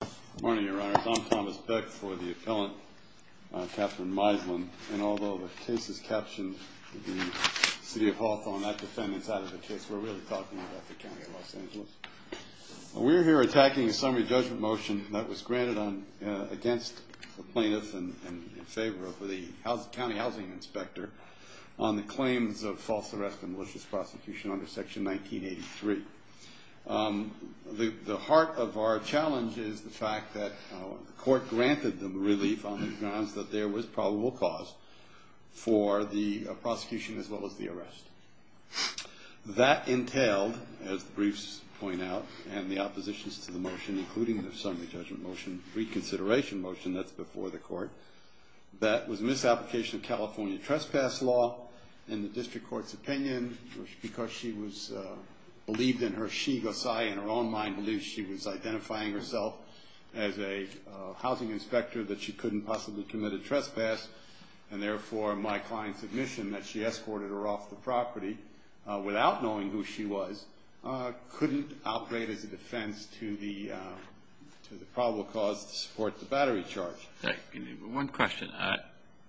Good morning, Your Honors. I'm Thomas Beck for the appellant, Catherine Meislin. And although the case is captioned, the City of Hawthorne, I defend the side of the case. We're really talking about the county of Los Angeles. We're here attacking a summary judgment motion that was granted against the plaintiffs and in favor of the county housing inspector on the claims of false arrest and malicious prosecution under Section 1983. The heart of our challenge is the fact that the court granted them relief on the grounds that there was probable cause for the prosecution as well as the arrest. That entailed, as the briefs point out, and the oppositions to the motion, including the summary judgment motion reconsideration motion that's before the court, that was a misapplication of California trespass law in the district court's opinion because she was believed in her she, because I, in her own mind, believed she was identifying herself as a housing inspector that she couldn't possibly commit a trespass. And therefore, my client's admission that she escorted her off the property without knowing who she was couldn't operate as a defense to the probable cause to support the battery charge. One question.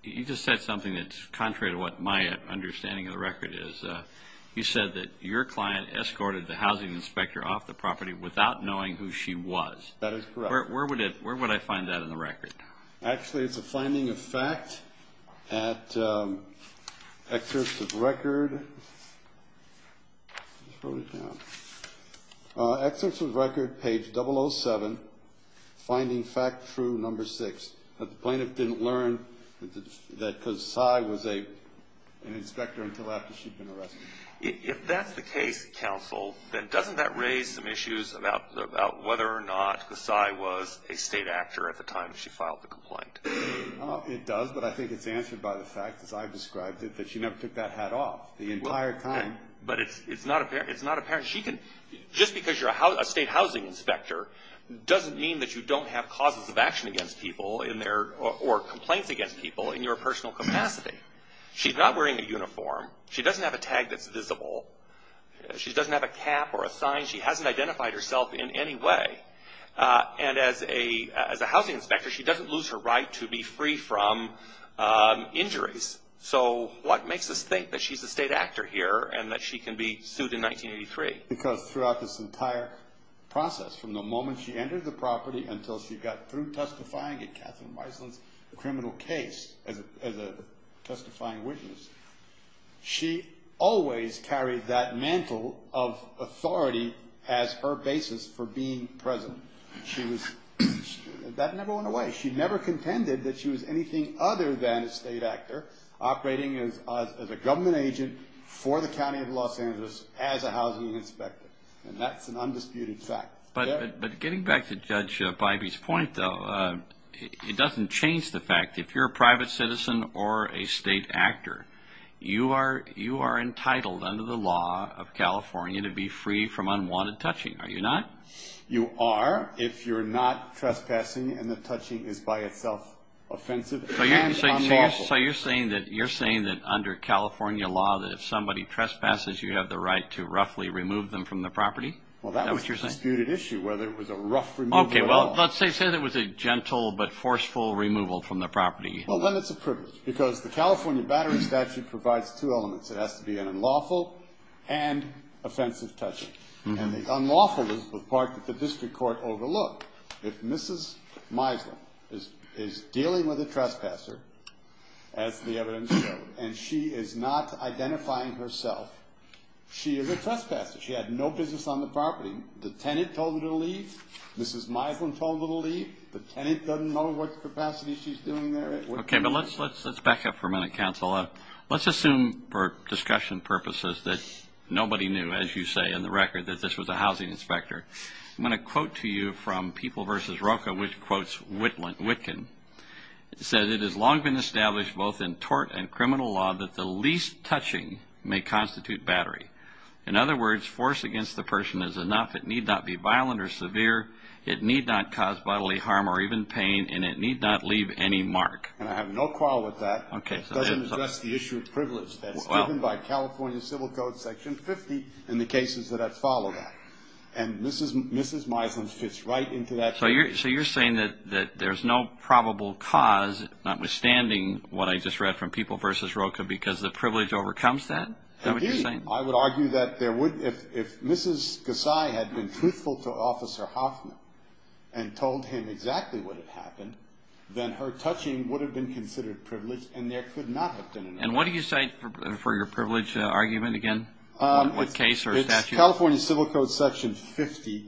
You just said something that's contrary to what my understanding of the record is. You said that your client escorted the housing inspector off the property without knowing who she was. That is correct. Where would I find that in the record? Actually, it's a finding of fact at Excerpts of Record. Here, I just wrote it down. Excerpts of Record, page 007, finding fact true, number six, that the plaintiff didn't learn that Kasai was an inspector until after she'd been arrested. If that's the case, counsel, then doesn't that raise some issues about whether or not Kasai was a state actor at the time she filed the complaint? It does, but I think it's answered by the fact, as I've described it, that she never took that hat off the entire time. But it's not apparent. Just because you're a state housing inspector doesn't mean that you don't have causes of action against people or complaints against people in your personal capacity. She's not wearing a uniform. She doesn't have a tag that's visible. She doesn't have a cap or a sign. She hasn't identified herself in any way. And as a housing inspector, she doesn't lose her right to be free from injuries. So what makes us think that she's a state actor here and that she can be sued in 1983? Because throughout this entire process, from the moment she entered the property until she got through testifying in Catherine Wiseland's criminal case as a testifying witness, she always carried that mantle of authority as her basis for being president. She was – that never went away. She never contended that she was anything other than a state actor operating as a government agent for the County of Los Angeles as a housing inspector. And that's an undisputed fact. But getting back to Judge Bybee's point, though, it doesn't change the fact if you're a private citizen or a state actor, you are entitled under the law of California to be free from unwanted touching, are you not? You are if you're not trespassing and the touching is by itself offensive and unlawful. So you're saying that under California law that if somebody trespasses, you have the right to roughly remove them from the property? Is that what you're saying? Well, that was a disputed issue whether it was a rough removal at all. Okay, well, let's say it was a gentle but forceful removal from the property. Well, then it's a privilege because the California Battery Statute provides two elements. It has to be an unlawful and offensive touching. And the unlawful is the part that the district court overlooked. If Mrs. Wiseland is dealing with a trespasser, as the evidence showed, and she is not identifying herself, she is a trespasser. She had no business on the property. The tenant told her to leave. Mrs. Wiseland told her to leave. The tenant doesn't know what capacity she's doing there. Okay, but let's back up for a minute, counsel. Let's assume for discussion purposes that nobody knew, as you say in the record, that this was a housing inspector. I'm going to quote to you from People v. Rocha, which quotes Witkin. It says, It has long been established both in tort and criminal law that the least touching may constitute battery. In other words, force against the person is enough. It need not be violent or severe. It need not cause bodily harm or even pain, and it need not leave any mark. And I have no quarrel with that. It doesn't address the issue of privilege. That's given by California Civil Code Section 50 in the cases that have followed that. And Mrs. Wiseland fits right into that. So you're saying that there's no probable cause, notwithstanding what I just read from People v. Rocha, because the privilege overcomes that? That's what you're saying? Indeed. I would argue that if Mrs. Gassai had been truthful to Officer Hoffman and told him exactly what had happened, then her touching would have been considered privilege and there could not have been an argument. And what do you cite for your privilege argument again? What case or statute? It's California Civil Code Section 50,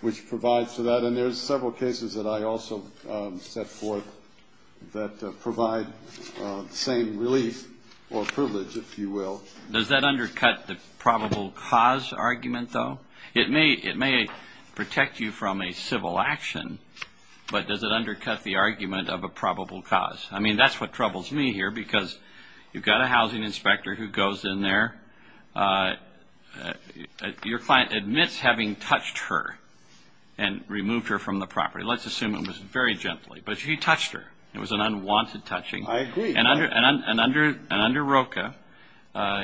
which provides for that. And then there's several cases that I also set forth that provide the same relief or privilege, if you will. Does that undercut the probable cause argument, though? It may protect you from a civil action, but does it undercut the argument of a probable cause? I mean, that's what troubles me here, because you've got a housing inspector who goes in there. Your client admits having touched her and removed her from the property. Let's assume it was very gently. But she touched her. It was an unwanted touching. I agree. And under Rocha,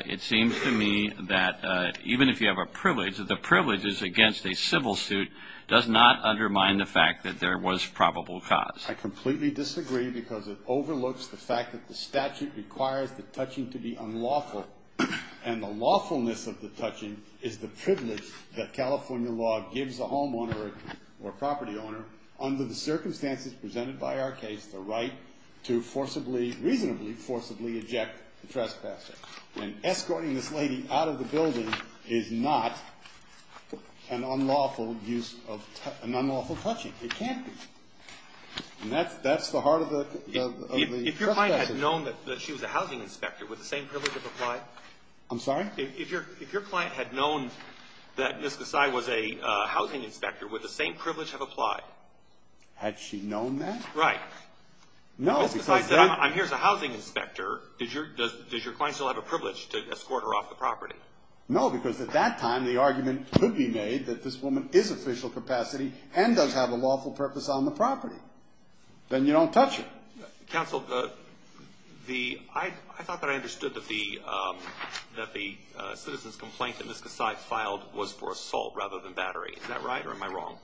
it seems to me that even if you have a privilege, the privileges against a civil suit does not undermine the fact that there was probable cause. I completely disagree, because it overlooks the fact that the statute requires the touching to be unlawful. And the lawfulness of the touching is the privilege that California law gives a homeowner or property owner, under the circumstances presented by our case, the right to reasonably forcibly eject the trespasser. And escorting this lady out of the building is not an unlawful touching. It can't be. And that's the heart of the trespassers. If your client had known that she was a housing inspector, would the same privilege have applied? I'm sorry? If your client had known that Ms. Gassai was a housing inspector, would the same privilege have applied? Had she known that? Right. No, because I'm here as a housing inspector. Does your client still have a privilege to escort her off the property? No, because at that time, the argument could be made that this woman is official capacity and does have a lawful purpose on the property. Then you don't touch her. Counsel, I thought that I understood that the citizen's complaint that Ms. Gassai filed was for assault rather than battery. Is that right, or am I wrong?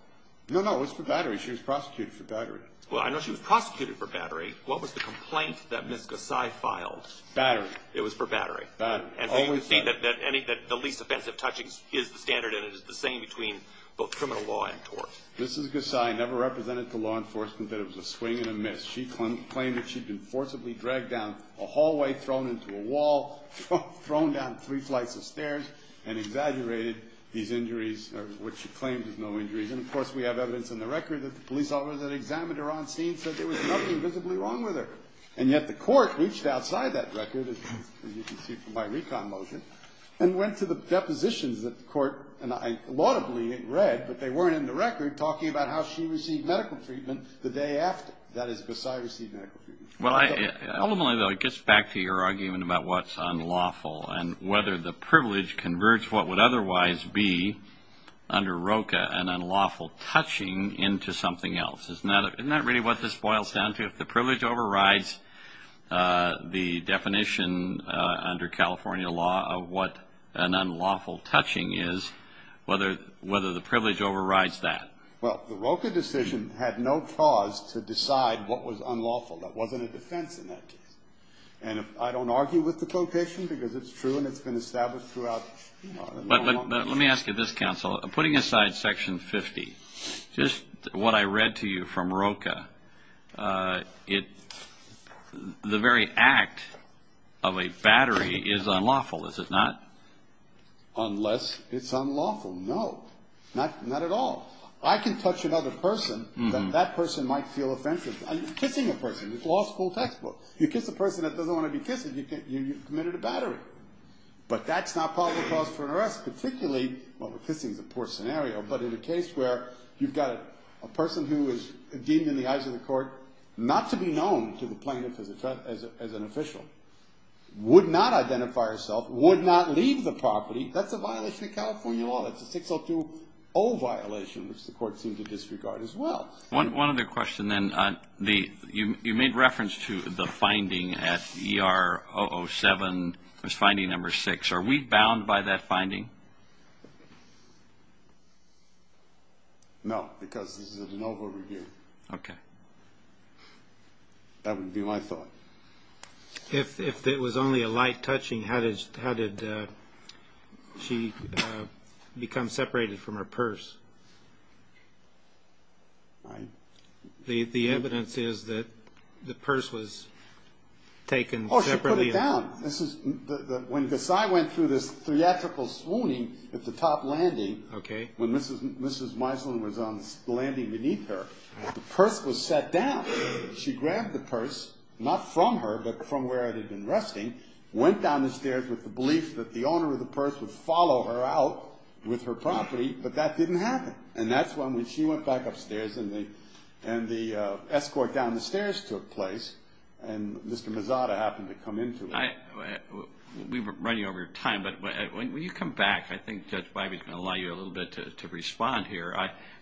No, no, it was for battery. She was prosecuted for battery. Well, I know she was prosecuted for battery. What was the complaint that Ms. Gassai filed? Battery. It was for battery. You can see that the least offensive touching is the standard, and it is the same between both criminal law and tort. Ms. Gassai never represented to law enforcement that it was a swing and a miss. She claimed that she'd been forcibly dragged down a hallway, thrown into a wall, thrown down three flights of stairs, and exaggerated these injuries, which she claimed was no injuries. And, of course, we have evidence in the record that the police officers that examined her on scene said there was nothing visibly wrong with her. And yet the court reached outside that record, as you can see from my recon motion, and went to the depositions that the court and I laudably read, but they weren't in the record, talking about how she received medical treatment the day after. That is, Gassai received medical treatment. Ultimately, though, it gets back to your argument about what's unlawful and whether the privilege converts what would otherwise be under ROCA an unlawful touching into something else. Isn't that really what this boils down to? If the privilege overrides the definition under California law of what an unlawful touching is, whether the privilege overrides that. Well, the ROCA decision had no cause to decide what was unlawful. That wasn't a defense in that case. And I don't argue with the quotation because it's true and it's been established throughout. But let me ask you this, counsel. Putting aside Section 50, just what I read to you from ROCA, the very act of a battery is unlawful, is it not? Unless it's unlawful. No. Not at all. I can touch another person, but that person might feel offensive. I'm kissing a person. It's a law school textbook. You kiss a person that doesn't want to be kissed, you've committed a battery. But that's not probable cause for an arrest, particularly, well, the kissing is a poor scenario. But in a case where you've got a person who is deemed in the eyes of the court not to be known to the plaintiff as an official, would not identify herself, would not leave the property, that's a violation of California law. That's a 6020 violation, which the court seemed to disregard as well. One other question then. You made reference to the finding at ER007, there's finding number six. Are we bound by that finding? No, because this is a de novo review. Okay. That would be my thought. If it was only a light touching, how did she become separated from her purse? The evidence is that the purse was taken separately. Oh, she put it down. When Gassai went through this theatrical swooning at the top landing, when Mrs. Meisler was landing beneath her, the purse was set down. She grabbed the purse, not from her, but from where it had been resting, went down the stairs with the belief that the owner of the purse would follow her out with her property, but that didn't happen. And that's when she went back upstairs and the escort down the stairs took place, and Mr. Mezada happened to come into it. We were running over time, but when you come back, I think Judge Wybie's going to allow you a little bit to respond here.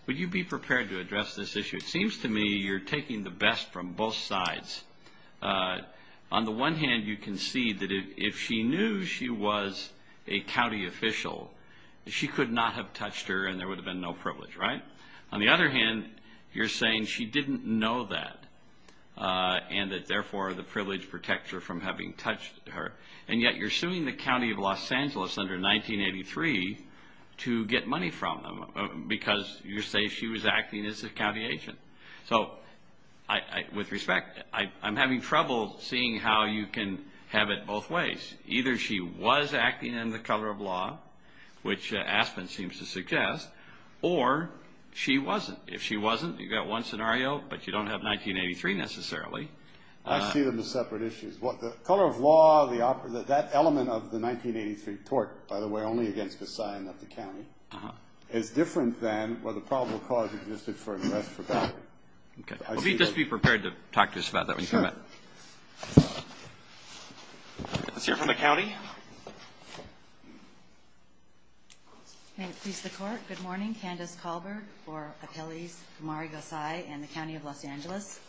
Would you be prepared to address this issue? It seems to me you're taking the best from both sides. On the one hand, you can see that if she knew she was a county official, she could not have touched her and there would have been no privilege, right? On the other hand, you're saying she didn't know that and that, therefore, the privilege protects her from having touched her, and yet you're suing the county of Los Angeles under 1983 to get money from them because you're saying she was acting as a county agent. So with respect, I'm having trouble seeing how you can have it both ways. Either she was acting in the color of law, which Aspen seems to suggest, or she wasn't. If she wasn't, you've got one scenario, but you don't have 1983 necessarily. I see them as separate issues. The color of law, that element of the 1983 tort, by the way, only against the sign of the county, is different than whether probable cause existed for an arrest for battery. Okay. Just be prepared to talk to us about that when you come back. Sure. Let's hear from the county. May it please the Court. Good morning. Candace Colbert for Appellees, Amari Gosai and the County of Los Angeles.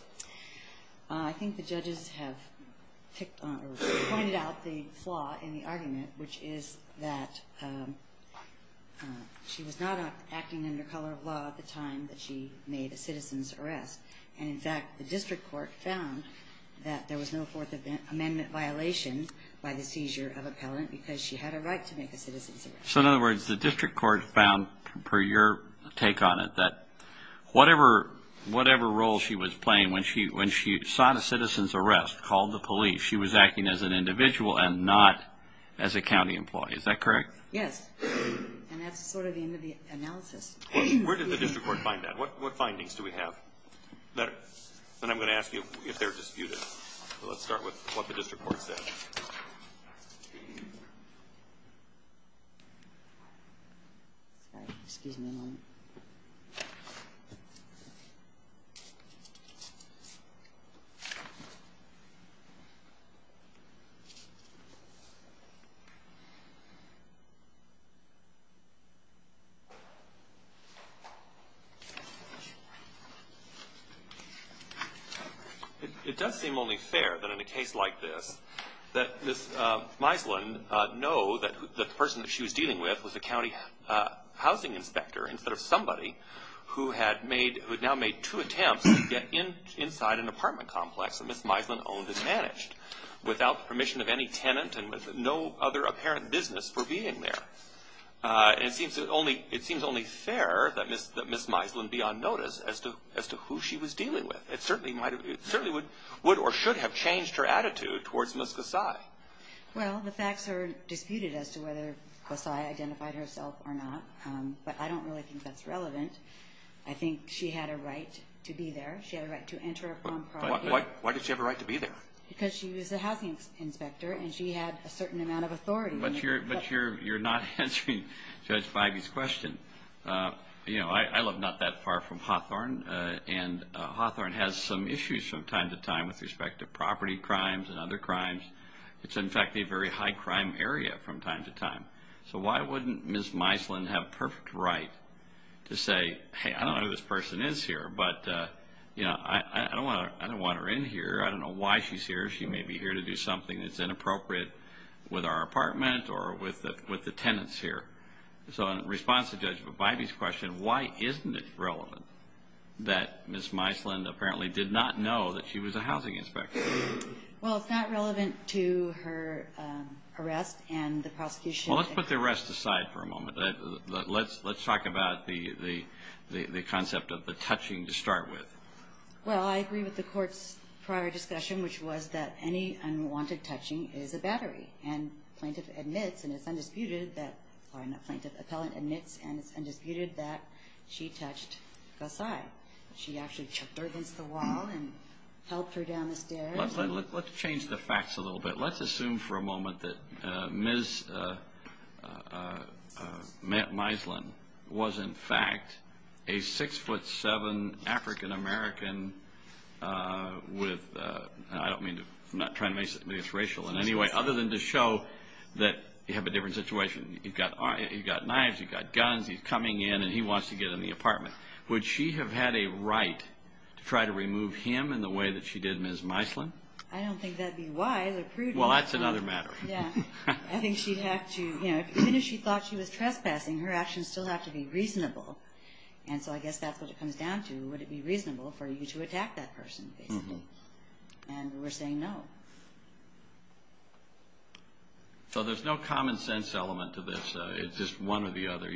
I think the judges have pointed out the flaw in the argument, which is that she was not acting under color of law at the time that she made a citizen's arrest. And, in fact, the district court found that there was no Fourth Amendment violation by the seizure of appellant because she had a right to make a citizen's arrest. So, in other words, the district court found, per your take on it, that whatever role she was playing when she sought a citizen's arrest, called the police, she was acting as an individual and not as a county employee. Is that correct? Yes. And that's sort of the end of the analysis. Where did the district court find that? What findings do we have? Then I'm going to ask you if they're disputed. Let's start with what the district court said. Sorry. Excuse me a moment. It does seem only fair that in a case like this that Ms. Meisland know that the person that she was dealing with was a county housing inspector instead of somebody who had now made two attempts to get inside an apartment complex that Ms. Meisland owned and managed without the permission of any tenant and with no other apparent business for being there. It seems only fair that Ms. Meisland be on notice as to who she was dealing with. It certainly would or should have changed her attitude towards Ms. Gassai. Well, the facts are disputed as to whether Gassai identified herself or not, but I don't really think that's relevant. I think she had a right to be there. She had a right to enter a property. Why did she have a right to be there? Because she was a housing inspector and she had a certain amount of authority. But you're not answering Judge Bivey's question. I live not that far from Hawthorne, and Hawthorne has some issues from time to time with respect to property crimes and other crimes. It's in fact a very high crime area from time to time. So why wouldn't Ms. Meisland have perfect right to say, hey, I don't know who this person is here, but I don't want her in here. I don't know why she's here. She may be here to do something that's inappropriate with our apartment or with the tenants here. So in response to Judge Bivey's question, why isn't it relevant that Ms. Meisland apparently did not know that she was a housing inspector? Well, it's not relevant to her arrest and the prosecution. Well, let's put the arrest aside for a moment. Let's talk about the concept of the touching to start with. Well, I agree with the court's prior discussion, which was that any unwanted touching is a battery. And plaintiff admits, and it's undisputed that, or not plaintiff, appellant admits, and it's undisputed that she touched the side. She actually took her against the wall and held her down the stairs. Let's change the facts a little bit. Let's assume for a moment that Ms. Meisland was, in fact, a 6'7 African-American with, and I don't mean to, I'm not trying to make this racial in any way, other than to show that you have a different situation. You've got knives, you've got guns, he's coming in, and he wants to get in the apartment. Would she have had a right to try to remove him in the way that she did Ms. Meisland? I don't think that would be wise or prudent. Well, that's another matter. Yeah. I think she'd have to, you know, even if she thought she was trespassing, her actions still have to be reasonable. And so I guess that's what it comes down to. Would it be reasonable for you to attack that person, basically? And we're saying no. So there's no common sense element to this. It's just one or the other.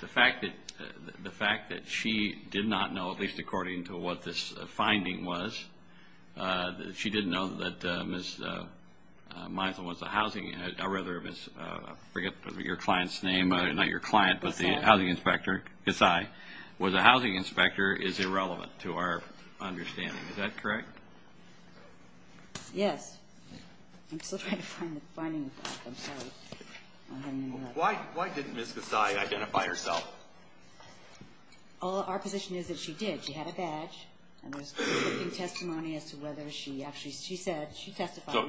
The fact that she did not know, at least according to what this finding was, that she didn't know that Ms. Meisland was a housing, I forget your client's name, not your client, but the housing inspector. Yes, I. Was a housing inspector is irrelevant to our understanding. Is that correct? Yes. I'm still trying to find the finding. I'm sorry. Why didn't Ms. Gassai identify herself? Our position is that she did. She had a badge. And there's conflicting testimony as to whether she actually, she said, she testified.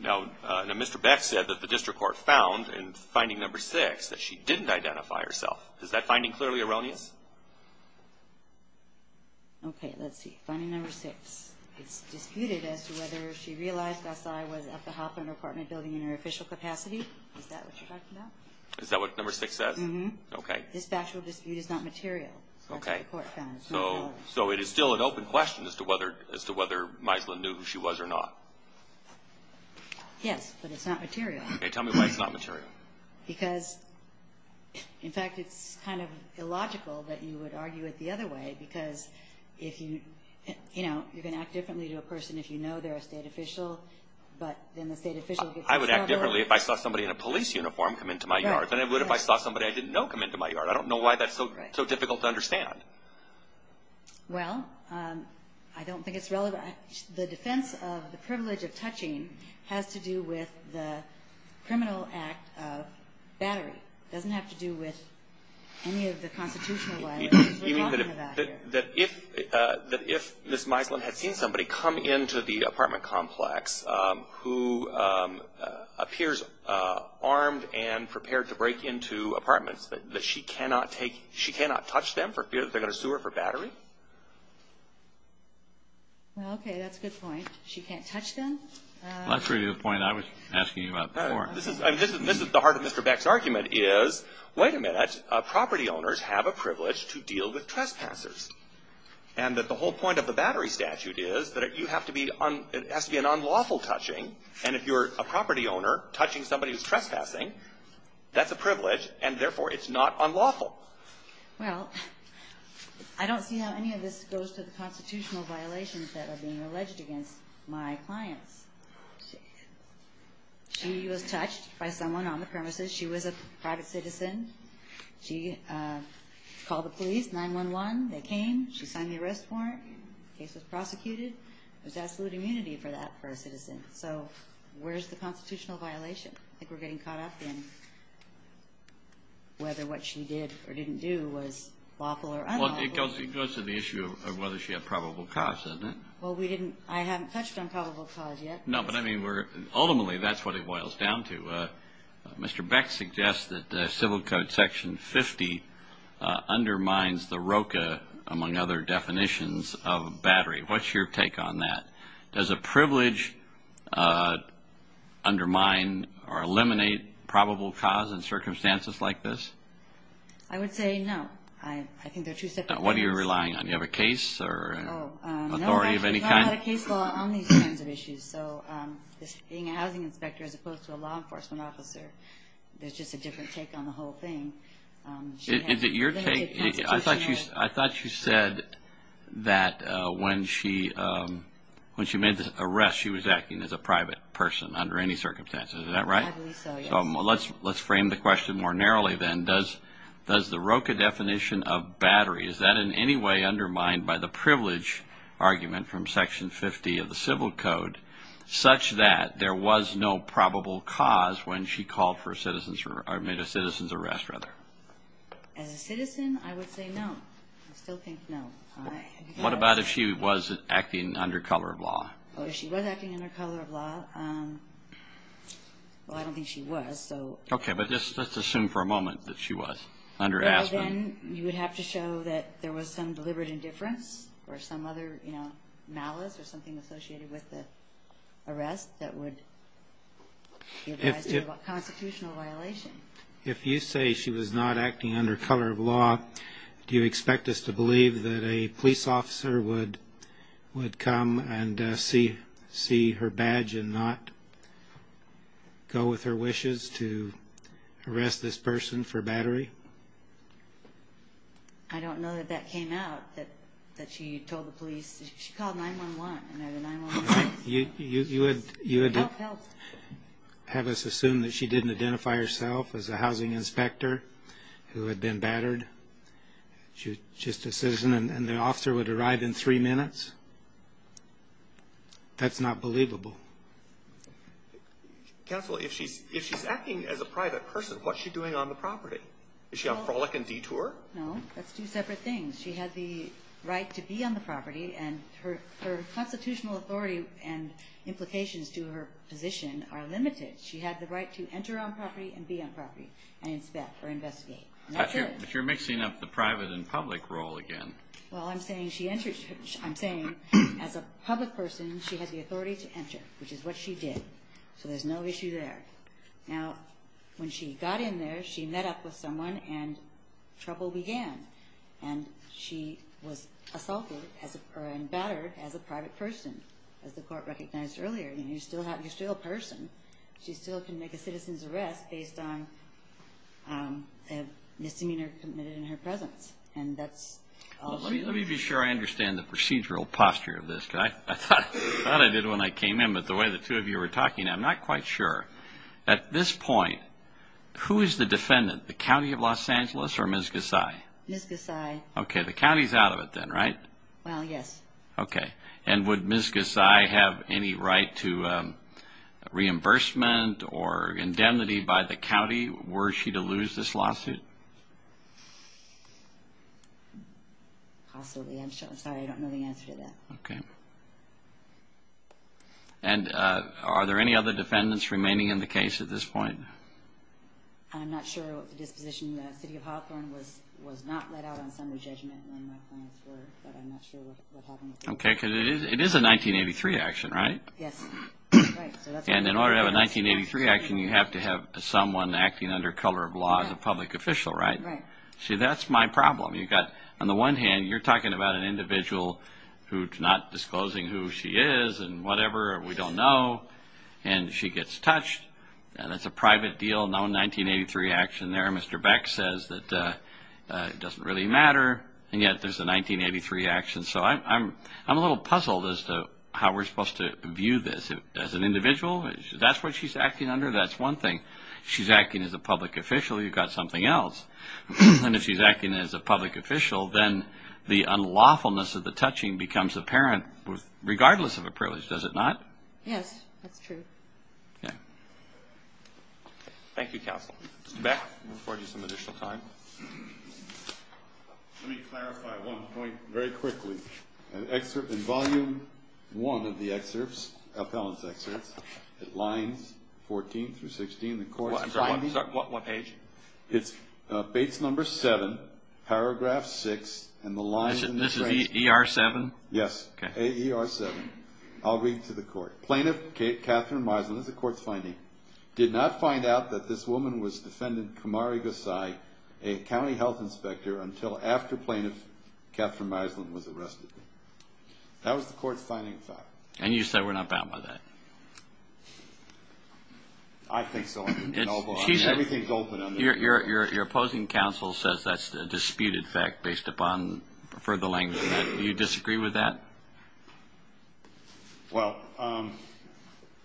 Now, Mr. Beck said that the district court found in finding number six that she didn't identify herself. Is that finding clearly erroneous? Okay, let's see. Finding number six. It's disputed as to whether she realized Gassai was at the Hoffman apartment building in her official capacity. Is that what you're talking about? Is that what number six says? Mm-hmm. Okay. This factual dispute is not material. Okay. That's what the court found. So it is still an open question as to whether Meisland knew who she was or not. Yes, but it's not material. Okay, tell me why it's not material. Because, in fact, it's kind of illogical that you would argue it the other way, because if you, you know, you can act differently to a person if you know they're a state official, but then the state official gets in trouble. I would act differently if I saw somebody in a police uniform come into my yard than I would if I saw somebody I didn't know come into my yard. I don't know why that's so difficult to understand. Well, I don't think it's relevant. The defense of the privilege of touching has to do with the criminal act of battery. It doesn't have to do with any of the constitutional laws that we're talking about here. That if Ms. Meisland had seen somebody come into the apartment complex who appears armed and prepared to break into apartments, that she cannot touch them for fear that they're going to sue her for battery? Okay, that's a good point. She can't touch them? That's really the point I was asking you about before. This is the heart of Mr. Beck's argument is, wait a minute, property owners have a privilege to deal with trespassers, and that the whole point of the battery statute is that it has to be an unlawful touching, and if you're a property owner touching somebody who's trespassing, that's a privilege, and therefore it's not unlawful. Well, I don't see how any of this goes to the constitutional violations that are being alleged against my clients. She was touched by someone on the premises. She was a private citizen. She called the police, 911. They came. She signed the arrest warrant. The case was prosecuted. There's absolute immunity for that for a citizen. So where's the constitutional violation? I think we're getting caught up in whether what she did or didn't do was lawful or unlawful. Well, it goes to the issue of whether she had probable cause, doesn't it? Well, we didn't. I haven't touched on probable cause yet. No, but, I mean, ultimately that's what it boils down to. Mr. Beck suggests that Civil Code Section 50 undermines the ROCA, among other definitions, of battery. What's your take on that? Does a privilege undermine or eliminate probable cause in circumstances like this? I would say no. I think they're two separate things. What are you relying on? Do you have a case or authority of any kind? No, I actually don't have a case law on these kinds of issues. So being a housing inspector as opposed to a law enforcement officer, there's just a different take on the whole thing. Is it your take? I thought you said that when she made the arrest she was acting as a private person under any circumstances. Is that right? I believe so, yes. Let's frame the question more narrowly then. Does the ROCA definition of battery, is that in any way undermined by the privilege argument from Section 50 of the Civil Code, such that there was no probable cause when she made a citizen's arrest? As a citizen, I would say no. I still think no. What about if she was acting under color of law? If she was acting under color of law, well, I don't think she was. Okay, but let's assume for a moment that she was. Then you would have to show that there was some deliberate indifference or some other malice or something associated with the arrest that would give rise to a constitutional violation. If you say she was not acting under color of law, do you expect us to believe that a police officer would come and see her badge and not go with her wishes to arrest this person for battery? I don't know that that came out, that she told the police. She called 911. You would have us assume that she didn't identify herself as a housing inspector who had been battered. She was just a citizen, and the officer would arrive in three minutes? That's not believable. Counsel, if she's acting as a private person, what's she doing on the property? Is she on frolic and detour? No, that's two separate things. She had the right to be on the property, and her constitutional authority and implications to her position are limited. She had the right to enter on property and be on property and inspect or investigate. But you're mixing up the private and public role again. Well, I'm saying as a public person, she has the authority to enter, which is what she did. So there's no issue there. Now, when she got in there, she met up with someone, and trouble began. And she was assaulted and battered as a private person, as the court recognized earlier. You're still a person. She still can make a citizen's arrest based on a misdemeanor committed in her presence. And that's all she did. Let me be sure I understand the procedural posture of this. I thought I did when I came in, but the way the two of you were talking, I'm not quite sure. At this point, who is the defendant, the county of Los Angeles or Ms. Gasai? Ms. Gasai. Okay, the county's out of it then, right? Well, yes. Okay. And would Ms. Gasai have any right to reimbursement or indemnity by the county were she to lose this lawsuit? Possibly. I'm sorry, I don't know the answer to that. Okay. And are there any other defendants remaining in the case at this point? I'm not sure what the disposition, the city of Hawthorne was not let out on summary judgment when my clients were, but I'm not sure what happened with that. Okay, because it is a 1983 action, right? Yes. And in order to have a 1983 action, you have to have someone acting under color of law as a public official, right? Right. See, that's my problem. You've got, on the one hand, you're talking about an individual who's not disclosing who she is and whatever, or we don't know, and she gets touched. That's a private deal, no 1983 action there. Mr. Beck says that it doesn't really matter, and yet there's a 1983 action. So I'm a little puzzled as to how we're supposed to view this. As an individual, that's what she's acting under? That's one thing. She's acting as a public official. You've got something else. And if she's acting as a public official, then the unlawfulness of the touching becomes apparent regardless of a privilege. Does it not? Yes, that's true. Okay. Thank you, Counsel. Mr. Beck, I'm going to afford you some additional time. Let me clarify one point very quickly. In Volume 1 of the excerpts, appellant's excerpts, at lines 14 through 16, the court's findings. I'm sorry, what page? It's base number 7, paragraph 6, and the line in the phrase. This is ER 7? Yes. AER 7. I'll read it to the court. Plaintiff Catherine Misland, this is the court's finding, did not find out that this woman was defendant Kamari Gassai, a county health inspector, until after plaintiff Catherine Misland was arrested. That was the court's finding, in fact. And you said we're not bound by that? I think so. Everything's open. Your opposing counsel says that's a disputed fact based upon further language. Do you disagree with that? Well,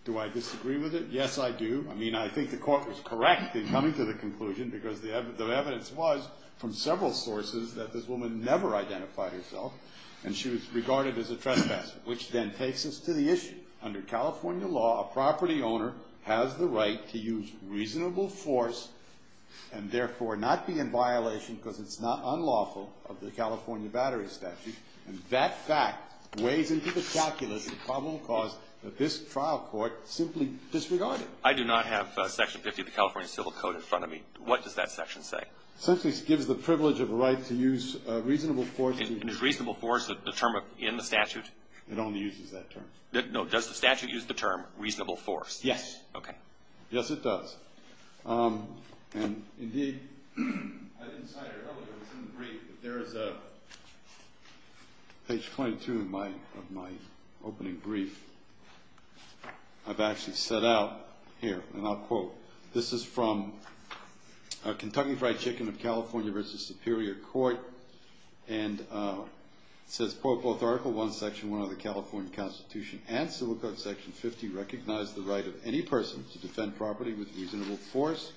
do I disagree with it? Yes, I do. I mean, I think the court was correct in coming to the conclusion because the evidence was, from several sources, that this woman never identified herself and she was regarded as a trespasser, which then takes us to the issue. Under California law, a property owner has the right to use reasonable force and therefore not be in violation because it's not unlawful of the California Battery Statute. And that fact weighs into the calculus of probable cause that this trial court simply disregarded. I do not have Section 50 of the California Civil Code in front of me. What does that section say? Essentially it gives the privilege of a right to use reasonable force. And is reasonable force the term in the statute? It only uses that term. No. Does the statute use the term reasonable force? Yes. Okay. Yes, it does. And, indeed, I didn't cite it earlier. It's in the brief. There is a page 22 of my opening brief I've actually set out here. And I'll quote. This is from a Kentucky Fried Chicken of California v. Superior Court and it says, quote, Article I, Section 1 of the California Constitution and Civil Code Section 50 recognize the right of any person to defend property with reasonable force.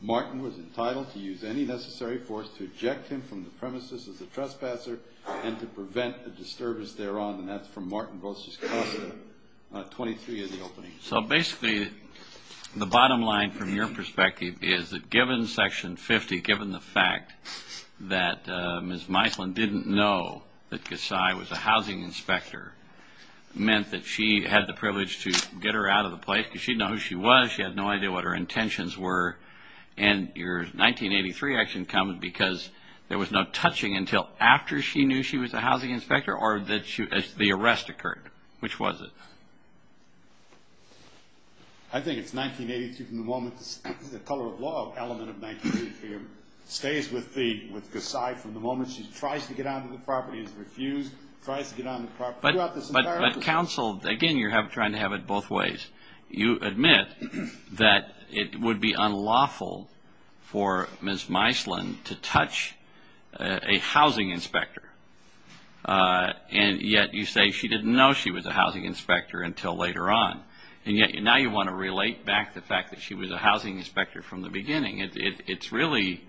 Martin was entitled to use any necessary force to eject him from the premises as a trespasser and to prevent a disturbance thereon. And that's from Martin v. Casa, 23 of the opening. So, basically, the bottom line from your perspective is that given Section 50, given the fact that Ms. Meisland didn't know that Casai was a housing inspector, meant that she had the privilege to get her out of the place because she didn't know who she was. She had no idea what her intentions were. And your 1983 action comes because there was no touching until after she knew she was a housing inspector or the arrest occurred. Which was it? I think it's 1982 from the moment the color of law element of 1983 stays with Casai from the moment she tries to get onto the property and is refused, tries to get onto the property. But counsel, again, you're trying to have it both ways. You admit that it would be unlawful for Ms. Meisland to touch a housing inspector, and yet you say she didn't know she was a housing inspector until later on. And yet now you want to relate back the fact that she was a housing inspector from the beginning. It's really,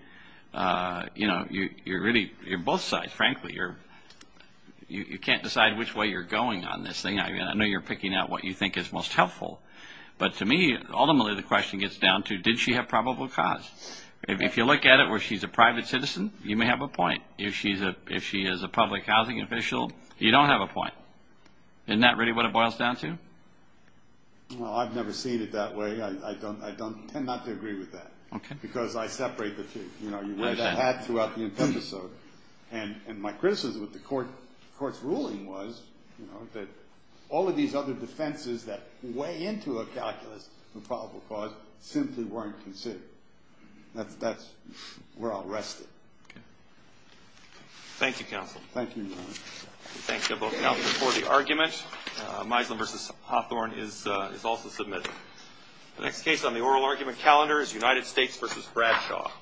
you know, you're both sides, frankly. You can't decide which way you're going on this thing. I know you're picking out what you think is most helpful. But to me, ultimately, the question gets down to did she have probable cause? If you look at it where she's a private citizen, you may have a point. If she is a public housing official, you don't have a point. Isn't that really what it boils down to? Well, I've never seen it that way. I tend not to agree with that because I separate the two. You wear that hat throughout the entire episode. And my criticism of the court's ruling was that all of these other defenses that weigh into a calculus of probable cause simply weren't considered. That's where I'll rest it. Thank you, counsel. Thank you, Your Honor. We thank you both, counsel, for the argument. Misland v. Hawthorne is also submitted. The next case on the oral argument calendar is United States v. Bradshaw.